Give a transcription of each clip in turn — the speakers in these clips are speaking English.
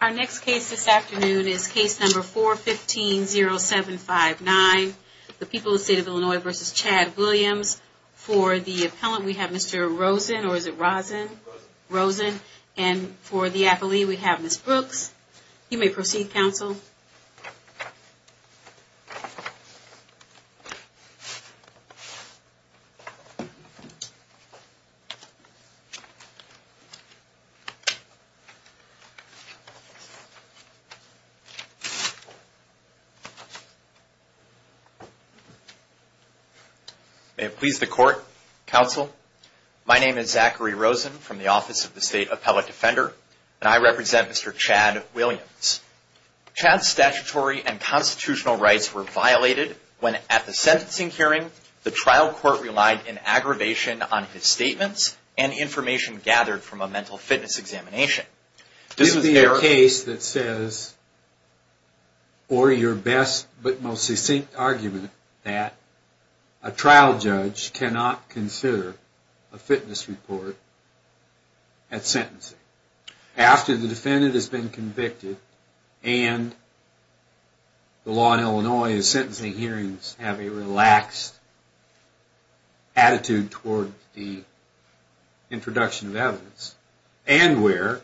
Our next case this afternoon is case number 415-0759, The People of the State of Illinois v. Chad Williams. For the appellant we have Mr. Rosen, and for the affilee we have Ms. Brooks. You may proceed, counsel. May it please the court, counsel. My name is Zachary Rosen from the Office of the State Appellate Defender, and I represent Mr. Chad Williams. Chad's statutory and constitutional rights were violated when at the sentencing hearing, the trial court relied in aggravation on his statements and information gathered from a mental fitness examination. This is the case that says, for your best but most succinct argument, that a trial judge cannot consider a fitness report at sentencing. After the defendant has been convicted, and the law in Illinois is sentencing hearings have a relaxed attitude toward the introduction of evidence, and where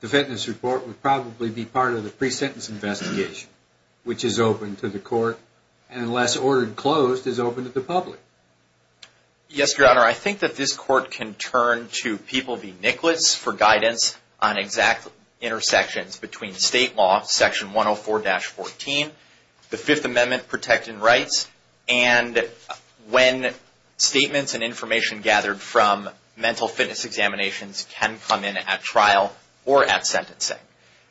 the fitness report would probably be part of the pre-sentence investigation, which is open to the court, and unless ordered closed, is open to the public. Yes, your honor, I think that this court can turn to People v. Nicholas for guidance on exact intersections between state law, section 104-14, the Fifth Amendment protecting rights, and when statements and information gathered from mental fitness examinations can come in at trial or at sentencing.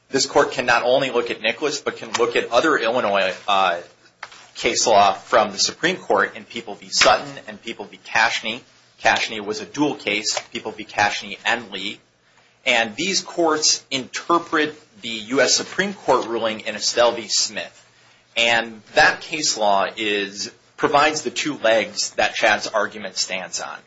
This court can not only look at Nicholas, but can look at other Illinois case law from the Supreme Court in People v. Sutton and People v. Casheney. Casheney was a dual case, People v. Casheney and Lee. And these courts interpret the U.S. Supreme Court ruling in Estelle v. Smith. And that case law provides the two legs that Chad's argument stands on.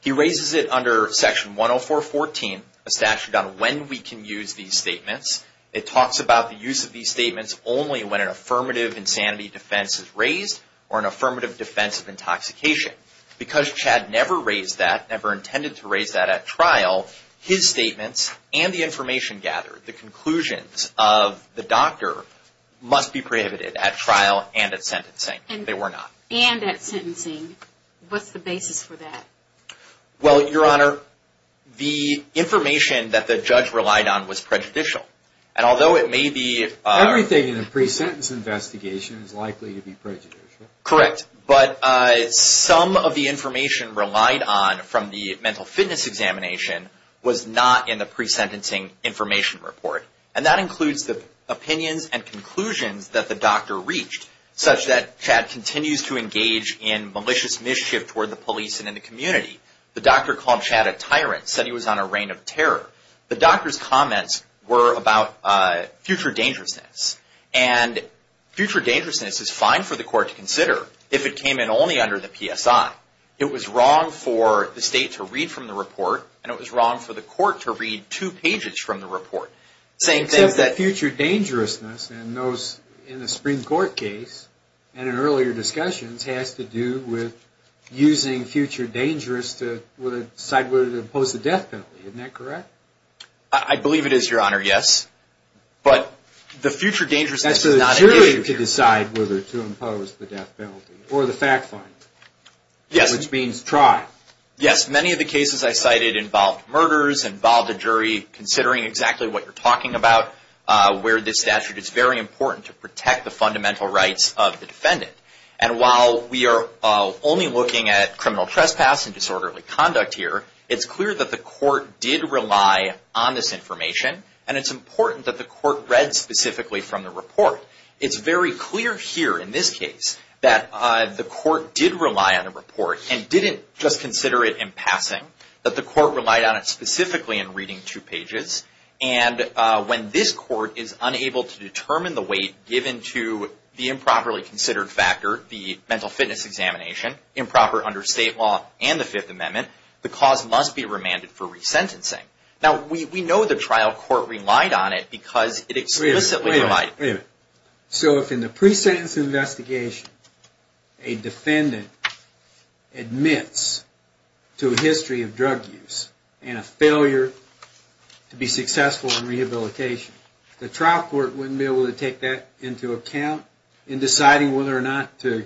He raises it under section 104-14, a statute on when we can use these statements. It talks about the use of these statements only when an affirmative insanity defense is raised or an affirmative defense of intoxication. Because Chad never raised that, never intended to raise that at trial, his statements and the information gathered, the conclusions of the doctor must be prohibited at trial and at sentencing. They were not. And at sentencing. What's the basis for that? Well, Your Honor, the information that the judge relied on was prejudicial. And although it may be... Everything in a pre-sentence investigation is likely to be prejudicial. Correct. But some of the information relied on from the mental fitness examination was not in the pre-sentencing information report. And that includes the opinions and conclusions that the doctor reached, such that Chad continues to engage in malicious mischief toward the police and in the community. The doctor called Chad a tyrant, said he was on a reign of terror. The doctor's comments were about future dangerousness. And future dangerousness is fine for the court to consider if it came in only under the PSI. It was wrong for the state to read from the report, and it was wrong for the court to read two pages from the report. Except that future dangerousness in a Supreme Court case and in earlier discussions has to do with using future dangerous to decide whether to impose a death penalty. Isn't that correct? I believe it is, Your Honor, yes. But the future dangerousness is not... That's for the jury to decide whether to impose the death penalty, or the fact finder. Yes. Which means try. Yes, many of the cases I cited involved murders, involved a jury, considering exactly what you're talking about, where this statute is very important to protect the fundamental rights of the defendant. And while we are only looking at criminal trespass and disorderly conduct here, it's clear that the court did rely on this information, and it's important that the court read specifically from the report. It's very clear here in this case that the court did rely on the report and didn't just consider it in passing, that the court relied on it specifically in reading two pages. And when this court is unable to determine the weight given to the improperly considered factor, the mental fitness examination, improper under state law and the Fifth Amendment, the cause must be remanded for resentencing. Now, we know the trial court relied on it because it explicitly provided... Wait a minute. Wait a minute. ...to be successful in rehabilitation. The trial court wouldn't be able to take that into account in deciding whether or not to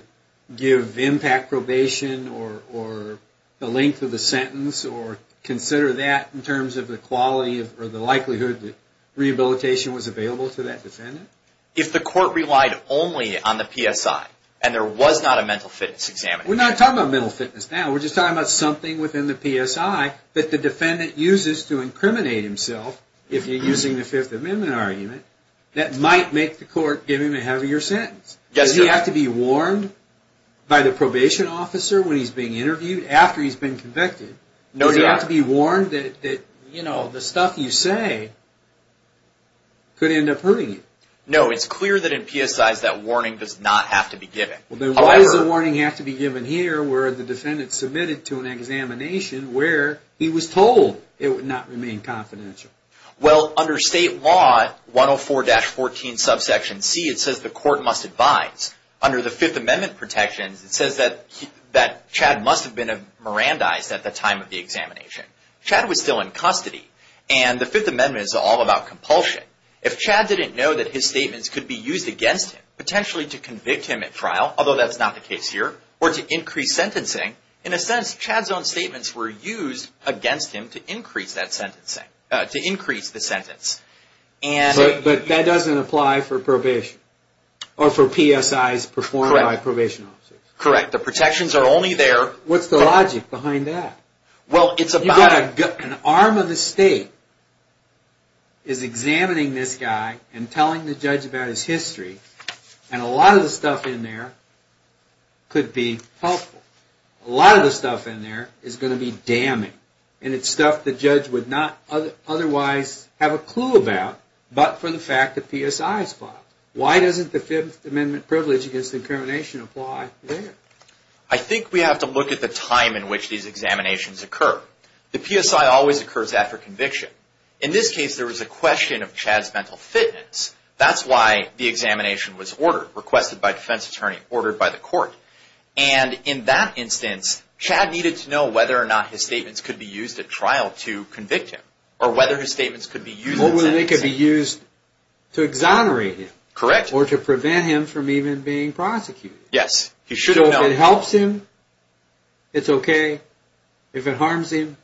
give impact probation or the length of the sentence or consider that in terms of the quality or the likelihood that rehabilitation was available to that defendant? If the court relied only on the PSI and there was not a mental fitness examination... We're not talking about mental fitness now. We're just talking about something within the PSI that the defendant uses to incriminate himself, if you're using the Fifth Amendment argument, that might make the court give him a heavier sentence. Yes, sir. Does he have to be warned by the probation officer when he's being interviewed after he's been convicted? No, sir. Does he have to be warned that the stuff you say could end up hurting him? No, it's clear that in PSIs that warning does not have to be given. Then why does the warning have to be given here where the defendant submitted to an examination where he was told it would not remain confidential? Well, under state law, 104-14 subsection C, it says the court must advise. Under the Fifth Amendment protections, it says that Chad must have been a Mirandized at the time of the examination. Chad was still in custody, and the Fifth Amendment is all about compulsion. If Chad didn't know that his statements could be used against him, potentially to convict him at trial, although that's not the case here, or to increase sentencing, in a sense, Chad's own statements were used against him to increase the sentence. But that doesn't apply for probation, or for PSIs performed by probation officers. Correct. The protections are only there... What's the logic behind that? An arm of the state is examining this guy and telling the judge about his history, and a lot of the stuff in there could be helpful. A lot of the stuff in there is going to be damning. And it's stuff the judge would not otherwise have a clue about, but for the fact that PSIs apply. Why doesn't the Fifth Amendment privilege against incrimination apply there? I think we have to look at the time in which these examinations occur. The PSI always occurs after conviction. In this case, there was a question of Chad's mental fitness. That's why the examination was ordered, requested by a defense attorney, ordered by the court. And in that instance, Chad needed to know whether or not his statements could be used at trial to convict him. Or whether his statements could be used in sentencing. Or whether they could be used to exonerate him. Correct. Or to prevent him from even being prosecuted. Yes. So if it helps him, it's okay. If it harms him,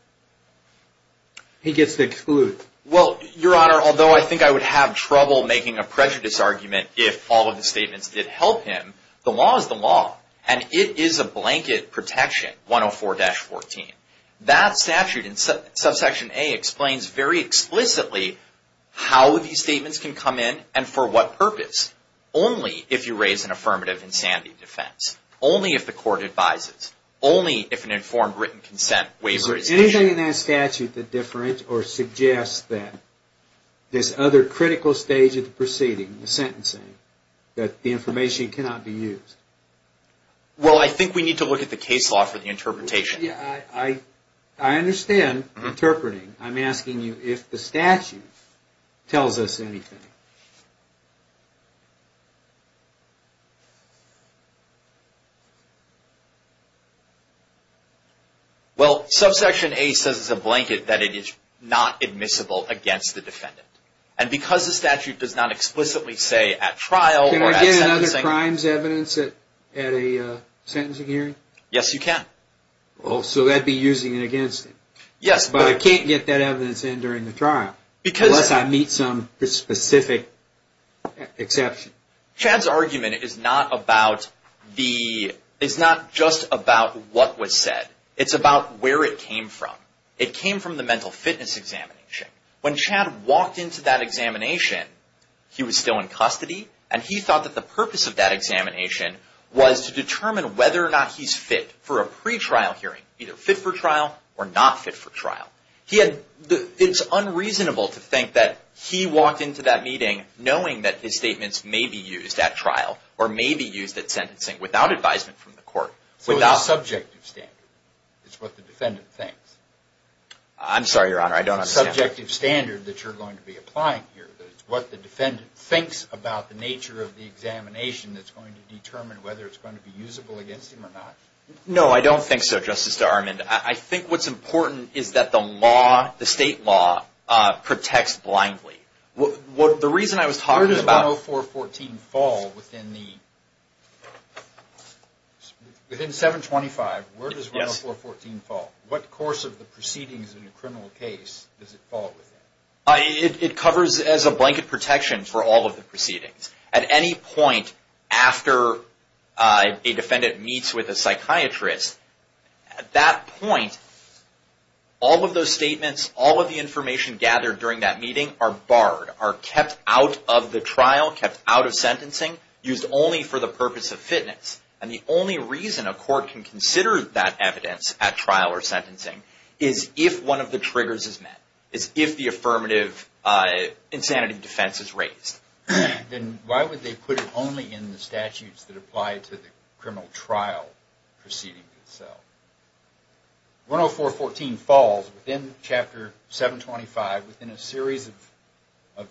he gets to exclude. Well, Your Honor, although I think I would have trouble making a prejudice argument if all of the statements did help him, the law is the law. And it is a blanket protection, 104-14. That statute in subsection A explains very explicitly how these statements can come in and for what purpose. Only if you raise an affirmative insanity defense. Only if the court advises. Only if an informed written consent waiver is issued. Is there anything in that statute that suggests that this other critical stage of the proceeding, the sentencing, that the information cannot be used? Well, I think we need to look at the case law for the interpretation. I understand interpreting. I'm asking you if the statute tells us anything. Well, subsection A says as a blanket that it is not admissible against the defendant. And because the statute does not explicitly say at trial or at sentencing... Can I get another crimes evidence at a sentencing hearing? Yes, you can. So I'd be using it against him. Yes. But I can't get that evidence in during the trial unless I meet some specific exception. Chad's argument is not just about what was said. It's about where it came from. It came from the mental fitness examination. When Chad walked into that examination, he was still in custody. And he thought that the purpose of that examination was to determine whether or not he's fit for a pretrial hearing, either fit for trial or not fit for trial. It's unreasonable to think that he walked into that meeting knowing that his statements may be used at trial or may be used at sentencing without advisement from the court. So it's a subjective standard. It's what the defendant thinks. I'm sorry, Your Honor. I don't understand. It's what the defendant thinks about the nature of the examination that's going to determine whether it's going to be usable against him or not. No, I don't think so, Justice Darman. I think what's important is that the law, the state law, protects blindly. The reason I was talking about... Where does 10414 fall within the... Within 725, where does 10414 fall? What course of the proceedings in a criminal case does it fall within? It covers as a blanket protection for all of the proceedings. At any point after a defendant meets with a psychiatrist, at that point, all of those statements, all of the information gathered during that meeting are barred, are kept out of the trial, kept out of sentencing, used only for the purpose of fitness. And the only reason a court can consider that evidence at trial or sentencing is if one of the triggers is met, is if the affirmative insanity defense is raised. Then why would they put it only in the statutes that apply to the criminal trial proceeding itself? 10414 falls within Chapter 725 within a series of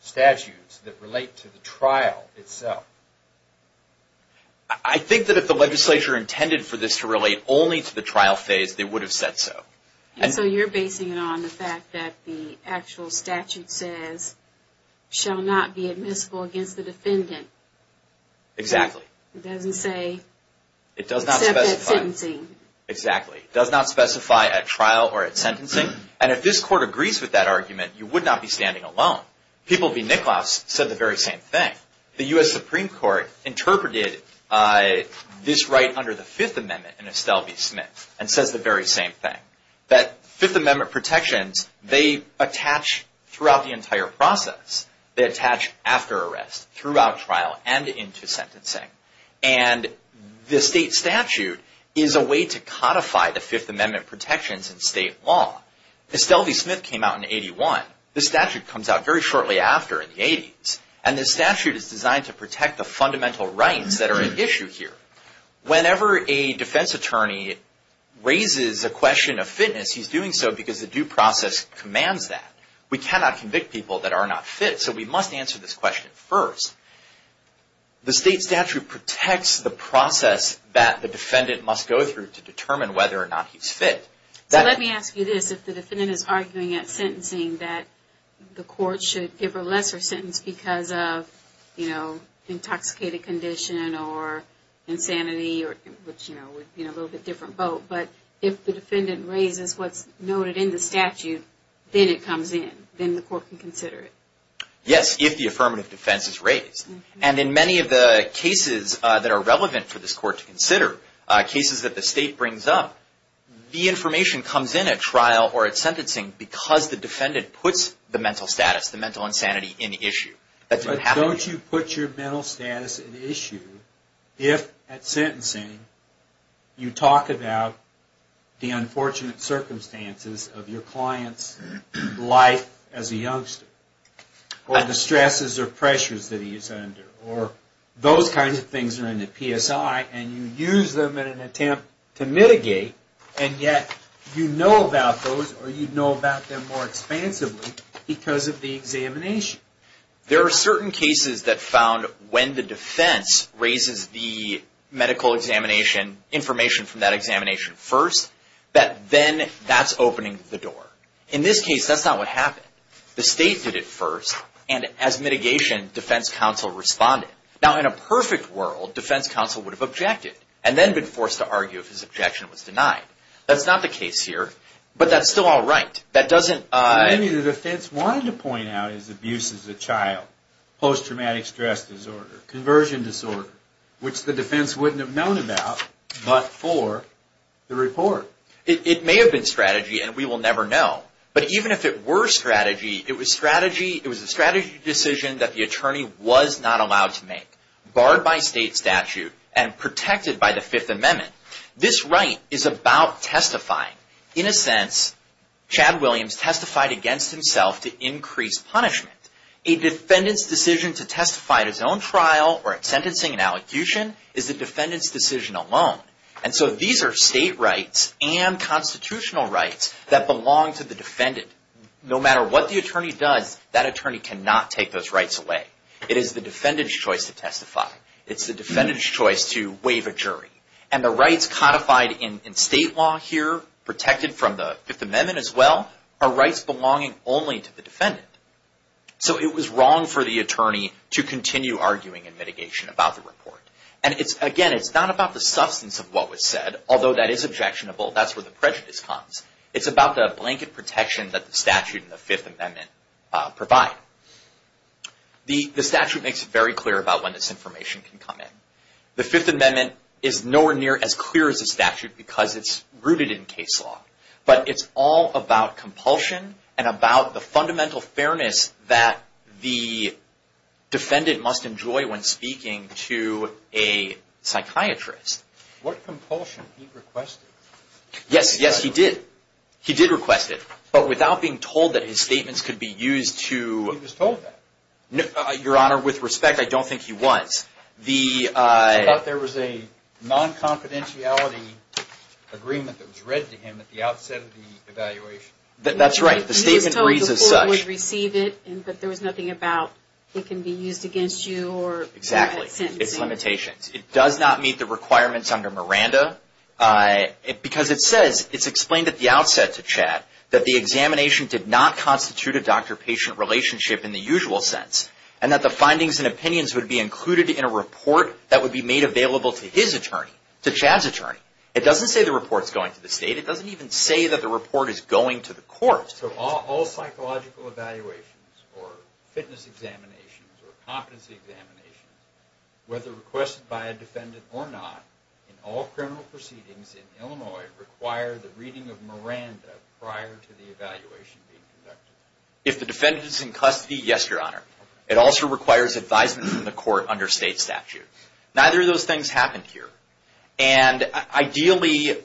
statutes that relate to the trial itself. I think that if the legislature intended for this to relate only to the trial phase, they would have said so. And so you're basing it on the fact that the actual statute says, shall not be admissible against the defendant. Exactly. It doesn't say... It does not specify... Except at sentencing. Exactly. It does not specify at trial or at sentencing. And if this court agrees with that argument, you would not be standing alone. People v. Nicklaus said the very same thing. The U.S. Supreme Court interpreted this right under the Fifth Amendment in Estelle v. Smith, and says the very same thing. That Fifth Amendment protections, they attach throughout the entire process. They attach after arrest, throughout trial, and into sentencing. And the state statute is a way to codify the Fifth Amendment protections in state law. Estelle v. Smith came out in 81. The statute comes out very shortly after, in the 80s. And this statute is designed to protect the fundamental rights that are at issue here. Whenever a defense attorney raises a question of fitness, he's doing so because the due process commands that. We cannot convict people that are not fit, so we must answer this question first. The state statute protects the process that the defendant must go through to determine whether or not he's fit. So let me ask you this. If the defendant is arguing at sentencing that the court should give a lesser sentence because of intoxicated condition or insanity, which would be a little bit different vote, but if the defendant raises what's noted in the statute, then it comes in. Then the court can consider it. Yes, if the affirmative defense is raised. And in many of the cases that are relevant for this court to consider, cases that the state brings up, the information comes in at trial or at sentencing because the defendant puts the mental status, the mental insanity in issue. But don't you put your mental status at issue if at sentencing you talk about the unfortunate circumstances of your client's life as a youngster or the stresses or pressures that he is under or those kinds of things are in the PSI and you use them in an attempt to mitigate and yet you know about those or you know about them more expansively because of the examination. There are certain cases that found when the defense raises the medical examination, information from that examination first, that then that's opening the door. In this case, that's not what happened. The state did it first and as mitigation, defense counsel responded. Now in a perfect world, defense counsel would have objected and then been forced to argue if his objection was denied. That's not the case here, but that's still all right. Maybe the defense wanted to point out his abuse as a child, post-traumatic stress disorder, conversion disorder, which the defense wouldn't have known about but for the report. It may have been strategy and we will never know. But even if it were strategy, it was a strategy decision that the attorney was not allowed to make, barred by state statute and protected by the Fifth Amendment. This right is about testifying. In a sense, Chad Williams testified against himself to increase punishment. A defendant's decision to testify at his own trial or at sentencing and allocution is the defendant's decision alone. And so these are state rights and constitutional rights that belong to the defendant. No matter what the attorney does, that attorney cannot take those rights away. It is the defendant's choice to testify. It's the defendant's choice to waive a jury. And the rights codified in state law here, protected from the Fifth Amendment as well, are rights belonging only to the defendant. So it was wrong for the attorney to continue arguing in mitigation about the report. And again, it's not about the substance of what was said, although that is objectionable. That's where the prejudice comes. It's about the blanket protection that the statute and the Fifth Amendment provide. The statute makes it very clear about when this information can come in. The Fifth Amendment is nowhere near as clear as the statute because it's rooted in case law. But it's all about compulsion and about the fundamental fairness that the defendant must enjoy when speaking to a psychiatrist. What compulsion he requested. Yes, yes, he did. He did request it. But without being told that his statements could be used to... He was told that. Your Honor, with respect, I don't think he was. I thought there was a non-confidentiality agreement that was read to him at the outset of the evaluation. That's right. The statement reads as such. But there was nothing about it can be used against you or sentencing. Exactly. It's limitations. It does not meet the requirements under Miranda because it says, it's explained at the outset to Chad, that the examination did not constitute a doctor-patient relationship in the usual sense and that the findings and opinions would be included in a report that would be made available to his attorney, to Chad's attorney. It doesn't say the report's going to the state. It doesn't even say that the report is going to the court. So all psychological evaluations or fitness examinations or competency examinations, whether requested by a defendant or not, in all criminal proceedings in Illinois, require the reading of Miranda prior to the evaluation being conducted. If the defendant is in custody, yes, Your Honor. It also requires advisement from the court under state statute. Neither of those things happened here. And ideally,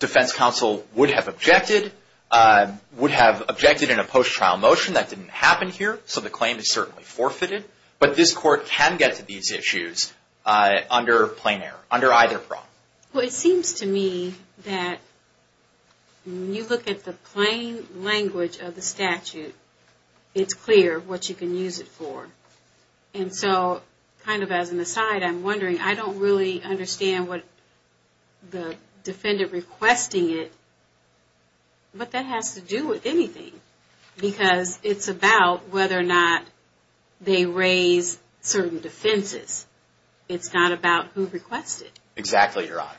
defense counsel would have objected. Would have objected in a post-trial motion. That didn't happen here. So the claim is certainly forfeited. But this court can get to these issues under plain error, under either prong. Well, it seems to me that when you look at the plain language of the statute, it's clear what you can use it for. And so, kind of as an aside, I'm wondering, I don't really understand what the defendant requesting it, but that has to do with anything. Because it's about whether or not they raise certain defenses. It's not about who requests it. Exactly, Your Honor.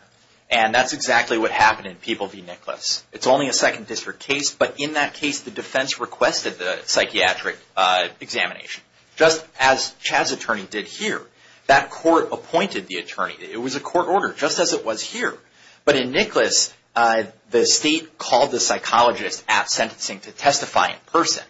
And that's exactly what happened in People v. Nicholas. It's only a Second District case, but in that case, the defense requested the psychiatric examination, just as Chaz's attorney did here. That court appointed the attorney. It was a court order, just as it was here. But in Nicholas, the state called the psychologist at sentencing to testify in person.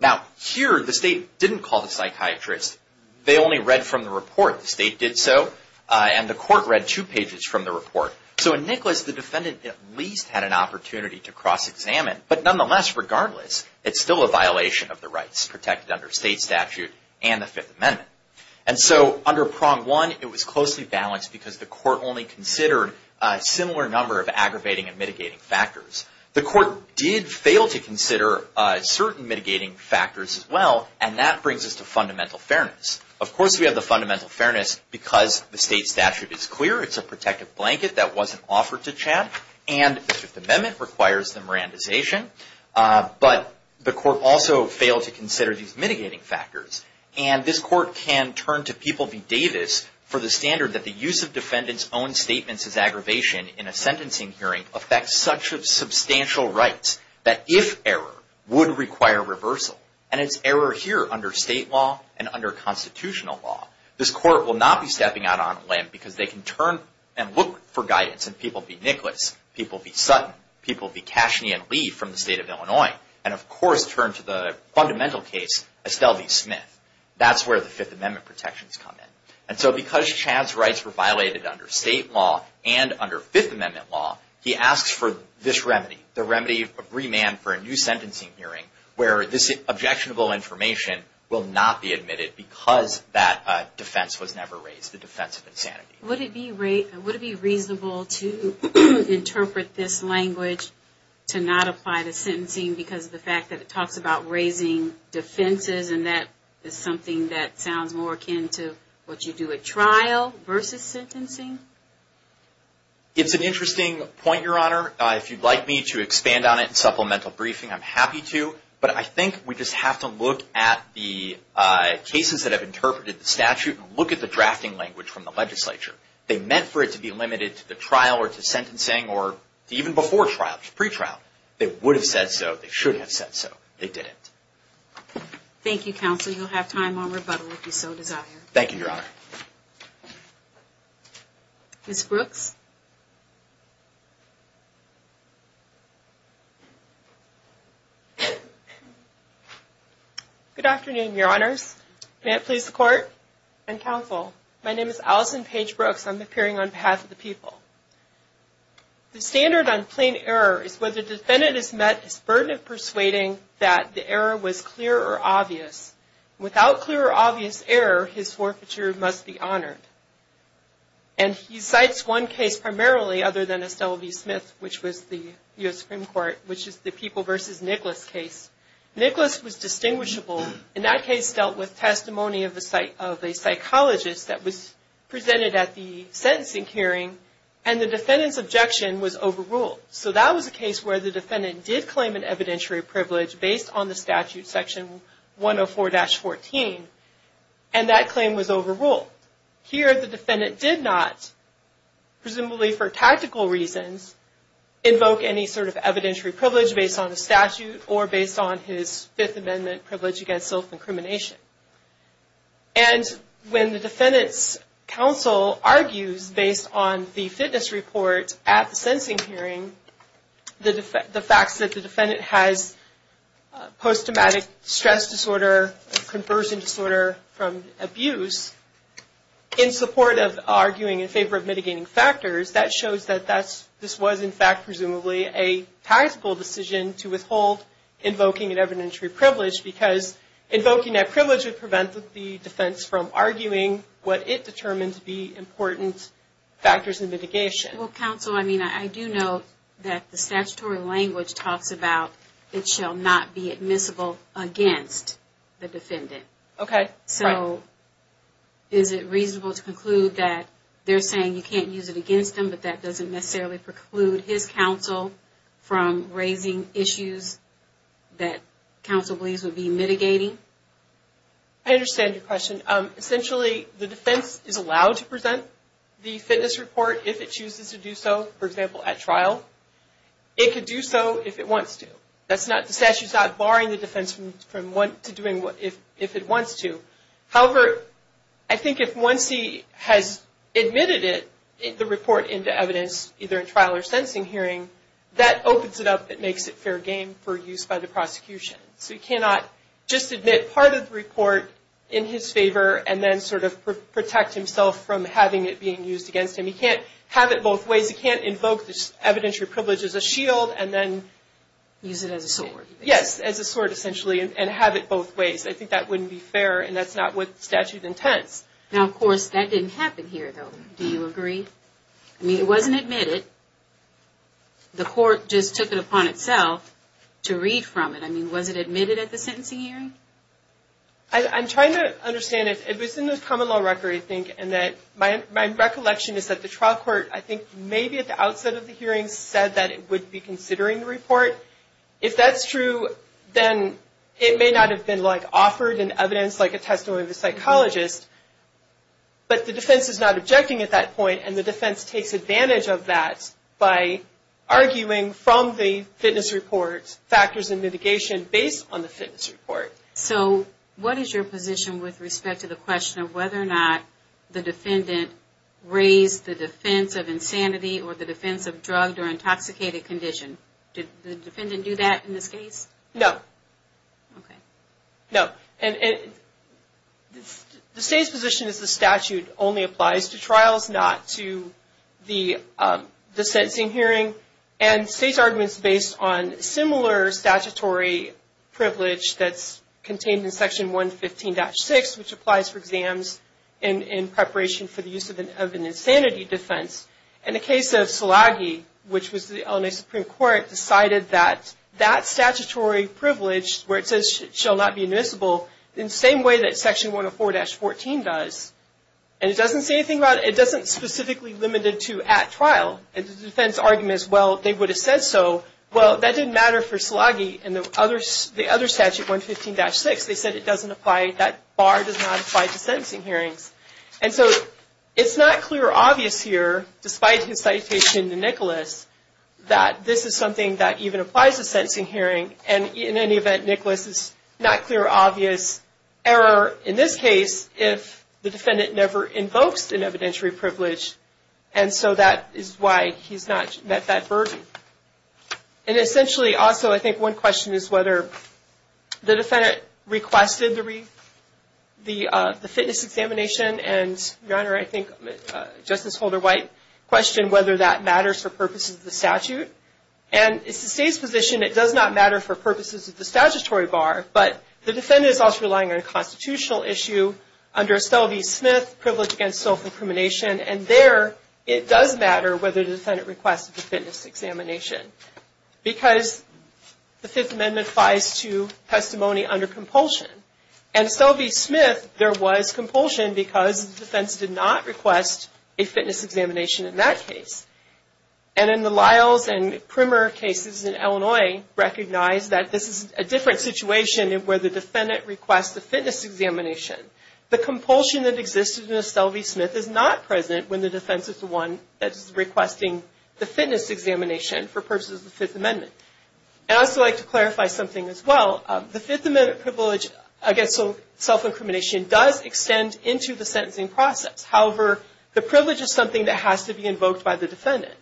Now, here, the state didn't call the psychiatrist. They only read from the report. The state did so, and the court read two pages from the report. So, in Nicholas, the defendant at least had an opportunity to cross-examine, but nonetheless, regardless, it's still a violation of the rights protected under state statute and the Fifth Amendment. And so, under Prong 1, it was closely balanced because the court only considered a similar number of aggravating and mitigating factors. The court did fail to consider certain mitigating factors as well, and that brings us to fundamental fairness. Of course, we have the fundamental fairness because the state statute is clear. It's a protective blanket that wasn't offered to Chaz, and the Fifth Amendment requires the Mirandization. But the court also failed to consider these mitigating factors, and this court can turn to People v. Davis for the standard that the use of defendants' own statements as aggravation in a sentencing hearing affects such substantial rights that, if error, would require reversal. And it's error here under state law and under constitutional law. This court will not be stepping out on a limb because they can turn and look for guidance in People v. Nicholas, People v. Sutton, People v. Casheney and Lee from the state of Illinois, and, of course, turn to the fundamental case, Estelle v. Smith. That's where the Fifth Amendment protections come in. And so, because Chaz's rights were violated under state law and under Fifth Amendment law, he asks for this remedy, the remedy of remand for a new sentencing hearing where this objectionable information will not be admitted because that defense was never raised, the defense of insanity. Would it be reasonable to interpret this language to not apply to sentencing because of the fact that it talks about raising defenses, and that is something that sounds more akin to what you do at trial versus sentencing? It's an interesting point, Your Honor. If you'd like me to expand on it in supplemental briefing, I'm happy to, but I think we just have to look at the cases that have interpreted the statute and look at the drafting language from the legislature. They meant for it to be limited to the trial or to sentencing or even before trial, pre-trial. They would have said so. They should have said so. They didn't. Thank you, counsel. You'll have time on rebuttal if you so desire. Thank you, Your Honor. Ms. Brooks? Good afternoon, Your Honors. May it please the Court and counsel. My name is Allison Paige Brooks. I'm appearing on behalf of the people. The standard on plain error is whether the defendant has met his burden of persuading that the error was clear or obvious. Without clear or obvious error, his forfeiture must be honored. And he cites one case primarily other than Estelle v. Smith, which was the U.S. Supreme Court, which is the People v. Nicholas case. Nicholas was distinguishable. And that case dealt with testimony of a psychologist that was presented at the sentencing hearing, and the defendant's objection was overruled. So that was a case where the defendant did claim an evidentiary privilege based on the statute, section 104-14, and that claim was overruled. Here, the defendant did not, presumably for tactical reasons, invoke any sort of evidentiary privilege based on the statute or based on his Fifth Amendment privilege against self-incrimination. And when the defendant's counsel argues based on the fitness report at the sentencing hearing, the facts that the defendant has post-traumatic stress disorder, conversion disorder from abuse, in support of arguing in favor of mitigating factors, that shows that this was, in fact, presumably a tactical decision to withhold invoking an evidentiary privilege because invoking that privilege would prevent the defense from arguing what it determined to be important factors in mitigation. Well, counsel, I mean, I do know that the statutory language talks about it shall not be admissible against the defendant. Okay. So is it reasonable to conclude that they're saying you can't use it against them, but that doesn't necessarily preclude his counsel from raising issues that counsel believes would be mitigating? I understand your question. Essentially, the defense is allowed to present the fitness report if it chooses to do so, for example, at trial. It could do so if it wants to. The statute's not barring the defense from doing if it wants to. However, I think if once he has admitted it, the report into evidence, either in trial or sentencing hearing, that opens it up and makes it fair game for use by the prosecution. So he cannot just admit part of the report in his favor and then sort of protect himself from having it being used against him. He can't have it both ways. He can't invoke this evidentiary privilege as a shield and then... Use it as a sword. Yes, as a sword, essentially, and have it both ways. I think that wouldn't be fair, and that's not what the statute intends. Now, of course, that didn't happen here, though. Do you agree? I mean, it wasn't admitted. The court just took it upon itself to read from it. I mean, was it admitted at the sentencing hearing? I'm trying to understand. It was in the common law record, I think, and my recollection is that the trial court, I think, maybe at the outset of the hearing, said that it would be considering the report. If that's true, then it may not have been offered in evidence like a testimony of a psychologist. But the defense is not objecting at that point, and the defense takes advantage of that by arguing from the fitness report factors and mitigation based on the fitness report. So what is your position with respect to the question of whether or not the defendant raised the defense of insanity or the defense of drugged or intoxicated condition? Did the defendant do that in this case? No. Okay. No. The state's position is the statute only applies to trials, not to the sentencing hearing. And the state's argument is based on similar statutory privilege that's contained in Section 115-6, which applies for exams in preparation for the use of an insanity defense. In the case of Selagi, which was the LNA Supreme Court, decided that that statutory privilege, where it says it shall not be admissible, in the same way that Section 104-14 does. And it doesn't say anything about it. It doesn't specifically limit it to at trial. And the defense argument is, well, they would have said so. Well, that didn't matter for Selagi. In the other statute, 115-6, they said it doesn't apply, that bar does not apply to sentencing hearings. And so it's not clear or obvious here, despite his citation to Nicholas, that this is something that even applies to sentencing hearing. And in any event, Nicholas, it's not clear or obvious error in this case if the defendant never invokes an evidentiary privilege. And so that is why he's not met that burden. And essentially, also, I think one question is whether the defendant requested the fitness examination. And, Your Honor, I think Justice Holder-White questioned whether that matters for purposes of the statute. And it's the State's position it does not matter for purposes of the statutory bar, but the defendant is also relying on a constitutional issue under Estelle v. Smith, privilege against self-incrimination. And there, it does matter whether the defendant requested the fitness examination because the Fifth Amendment applies to testimony under compulsion. And Estelle v. Smith, there was compulsion because the defense did not request a fitness examination in that case. And in the Lyles and Primmer cases in Illinois, recognized that this is a different situation where the defendant requests the fitness examination. The compulsion that existed in Estelle v. Smith is not present when the defense is the one that is requesting the fitness examination for purposes of the Fifth Amendment. And I'd also like to clarify something as well. The Fifth Amendment privilege against self-incrimination does extend into the sentencing process. However, the privilege is something that has to be invoked by the defendant.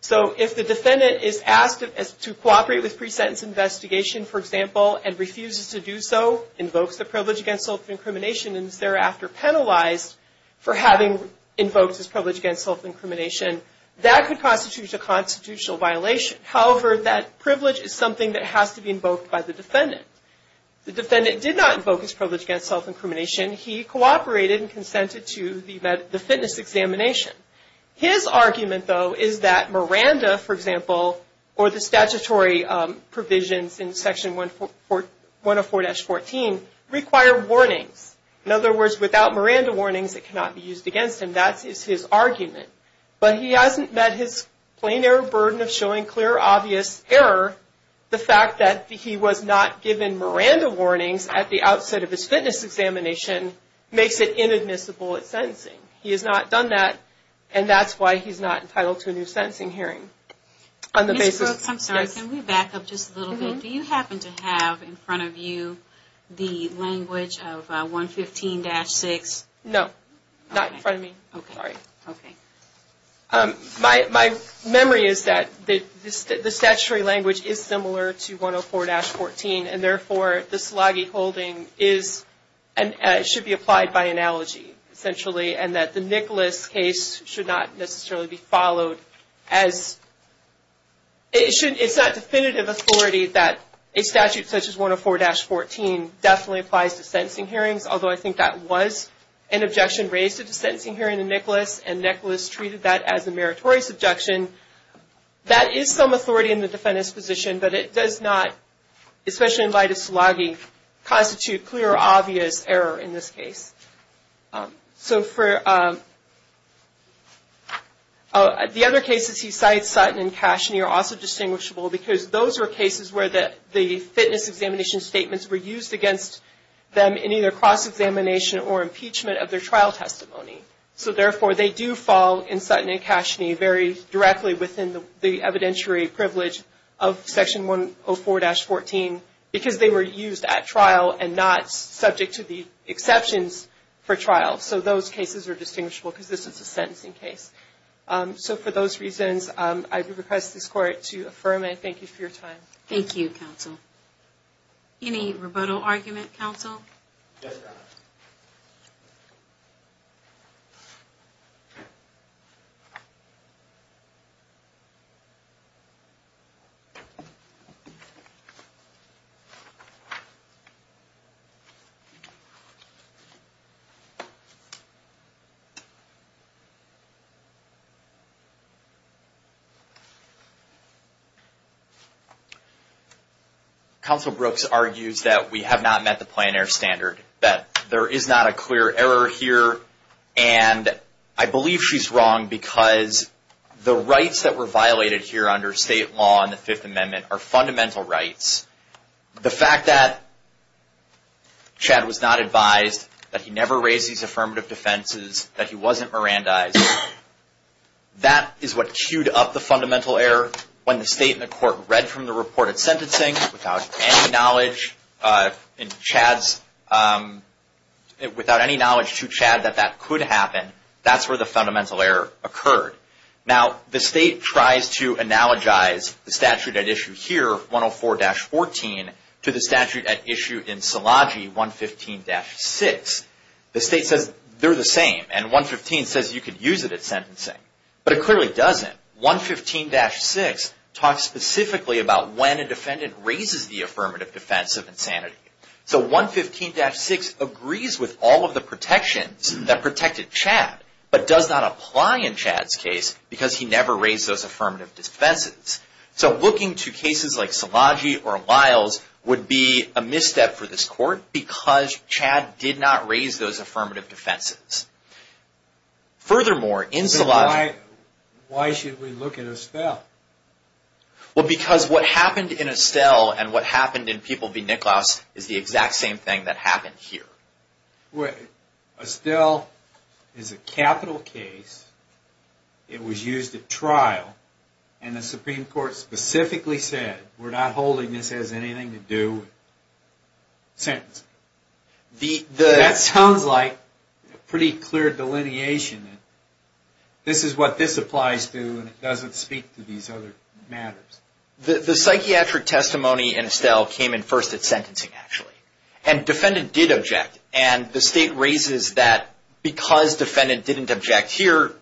So if the defendant is asked to cooperate with pre-sentence investigation, for example, and refuses to do so, invokes the privilege against self-incrimination, and is thereafter penalized for having invoked his privilege against self-incrimination, that could constitute a constitutional violation. However, that privilege is something that has to be invoked by the defendant. The defendant did not invoke his privilege against self-incrimination. He cooperated and consented to the fitness examination. His argument, though, is that Miranda, for example, or the statutory provisions in Section 104-14 require warnings. In other words, without Miranda warnings, it cannot be used against him. That is his argument. But he hasn't met his plain error burden of showing clear, obvious error. The fact that he was not given Miranda warnings at the outset of his fitness examination makes it inadmissible at sentencing. He has not done that, and that's why he's not entitled to a new sentencing hearing. Ms. Brooks, I'm sorry, can we back up just a little bit? Do you happen to have in front of you the language of 115-6? No, not in front of me. My memory is that the statutory language is similar to 104-14, and therefore the Selagi holding should be applied by analogy, essentially, and that the Nicholas case should not necessarily be followed. It's not definitive authority that a statute such as 104-14 definitely applies to sentencing hearings, although I think that was an objection raised at the sentencing hearing in Nicholas, and Nicholas treated that as a meritorious objection. That is some authority in the defendant's position, but it does not, especially in light of Selagi, constitute clear, obvious error in this case. The other cases he cites, Sutton and Casheney, are also distinguishable because those are cases where the fitness examination statements were used against them in either cross-examination or impeachment of their trial testimony. So, therefore, they do fall in Sutton and Casheney very directly within the evidentiary privilege of Section 104-14 because they were used at trial and not subject to the exceptions for trial. So those cases are distinguishable because this is a sentencing case. So for those reasons, I request this Court to affirm it. Thank you for your time. Thank you, counsel. Any rebuttal argument, counsel? No. Counsel Brooks argues that we have not met the plein air standard, that there is not a clear error here, and I believe she's wrong because the rights that were violated here under state law in the Fifth Amendment are fundamental rights. The fact that Chad was not advised, that he never raised these affirmative defenses, that he wasn't Mirandized, that is what cued up the fundamental error when the State and the Court read from the reported sentencing without any knowledge. And Chad's, without any knowledge to Chad that that could happen, that's where the fundamental error occurred. Now, the State tries to analogize the statute at issue here, 104-14, to the statute at issue in Selagi, 115-6. The State says they're the same, and 115 says you could use it at sentencing. But it clearly doesn't. 115-6 talks specifically about when a defendant raises the affirmative defense of insanity. So 115-6 agrees with all of the protections that protected Chad, but does not apply in Chad's case because he never raised those affirmative defenses. So looking to cases like Selagi or Lyles would be a misstep for this Court because Chad did not raise those affirmative defenses. Furthermore, in Selagi... Then why should we look at Estelle? Well, because what happened in Estelle and what happened in People v. Nicklaus is the exact same thing that happened here. Estelle is a capital case, it was used at trial, and the Supreme Court specifically said, we're not holding this has anything to do with sentencing. That sounds like pretty clear delineation. This is what this applies to, and it doesn't speak to these other matters. The psychiatric testimony in Estelle came in first at sentencing, actually. And defendant did object, and the State raises that because defendant didn't object here,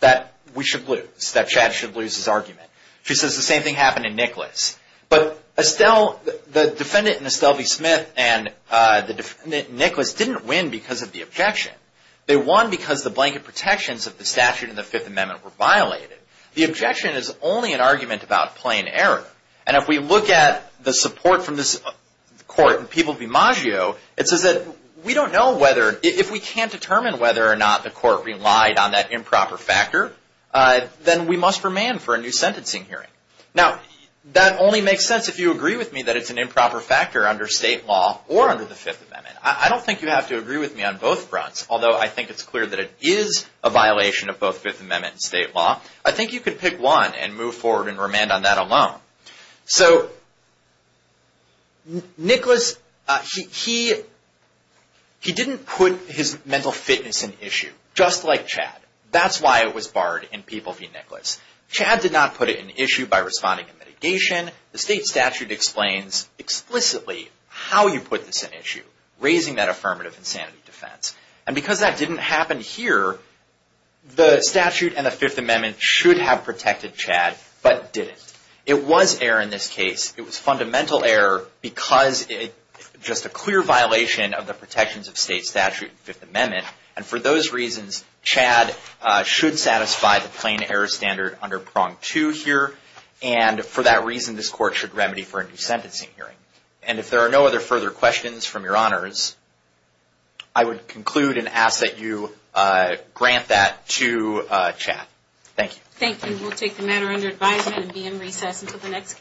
that we should lose, that Chad should lose his argument. She says the same thing happened in Nicklaus. But Estelle, the defendant in Estelle v. Smith and the defendant in Nicklaus didn't win because of the objection. They won because the blanket protections of the statute in the Fifth Amendment were violated. The objection is only an argument about plain error. And if we look at the support from this Court in People v. Maggio, it says that we don't know whether, if we can't determine whether or not the Court relied on that improper factor, then we must remand for a new sentencing hearing. Now, that only makes sense if you agree with me that it's an improper factor under State law or under the Fifth Amendment. I don't think you have to agree with me on both fronts, although I think it's clear that it is a violation of both Fifth Amendment and State law. I think you could pick one and move forward and remand on that alone. So, Nicklaus, he didn't put his mental fitness in issue, just like Chad. That's why it was barred in People v. Nicklaus. Chad did not put it in issue by responding in mitigation. The State statute explains explicitly how you put this in issue, raising that affirmative insanity defense. And because that didn't happen here, the statute and the Fifth Amendment should have protected Chad, but didn't. It was error in this case. It was fundamental error because it's just a clear violation of the protections of State statute and Fifth Amendment. And for those reasons, Chad should satisfy the plain error standard under prong two here. And for that reason, this court should remedy for a new sentencing hearing. And if there are no other further questions from your honors, I would conclude and ask that you grant that to Chad. Thank you. Thank you. We'll take the matter under advisement and be in recess until the next case.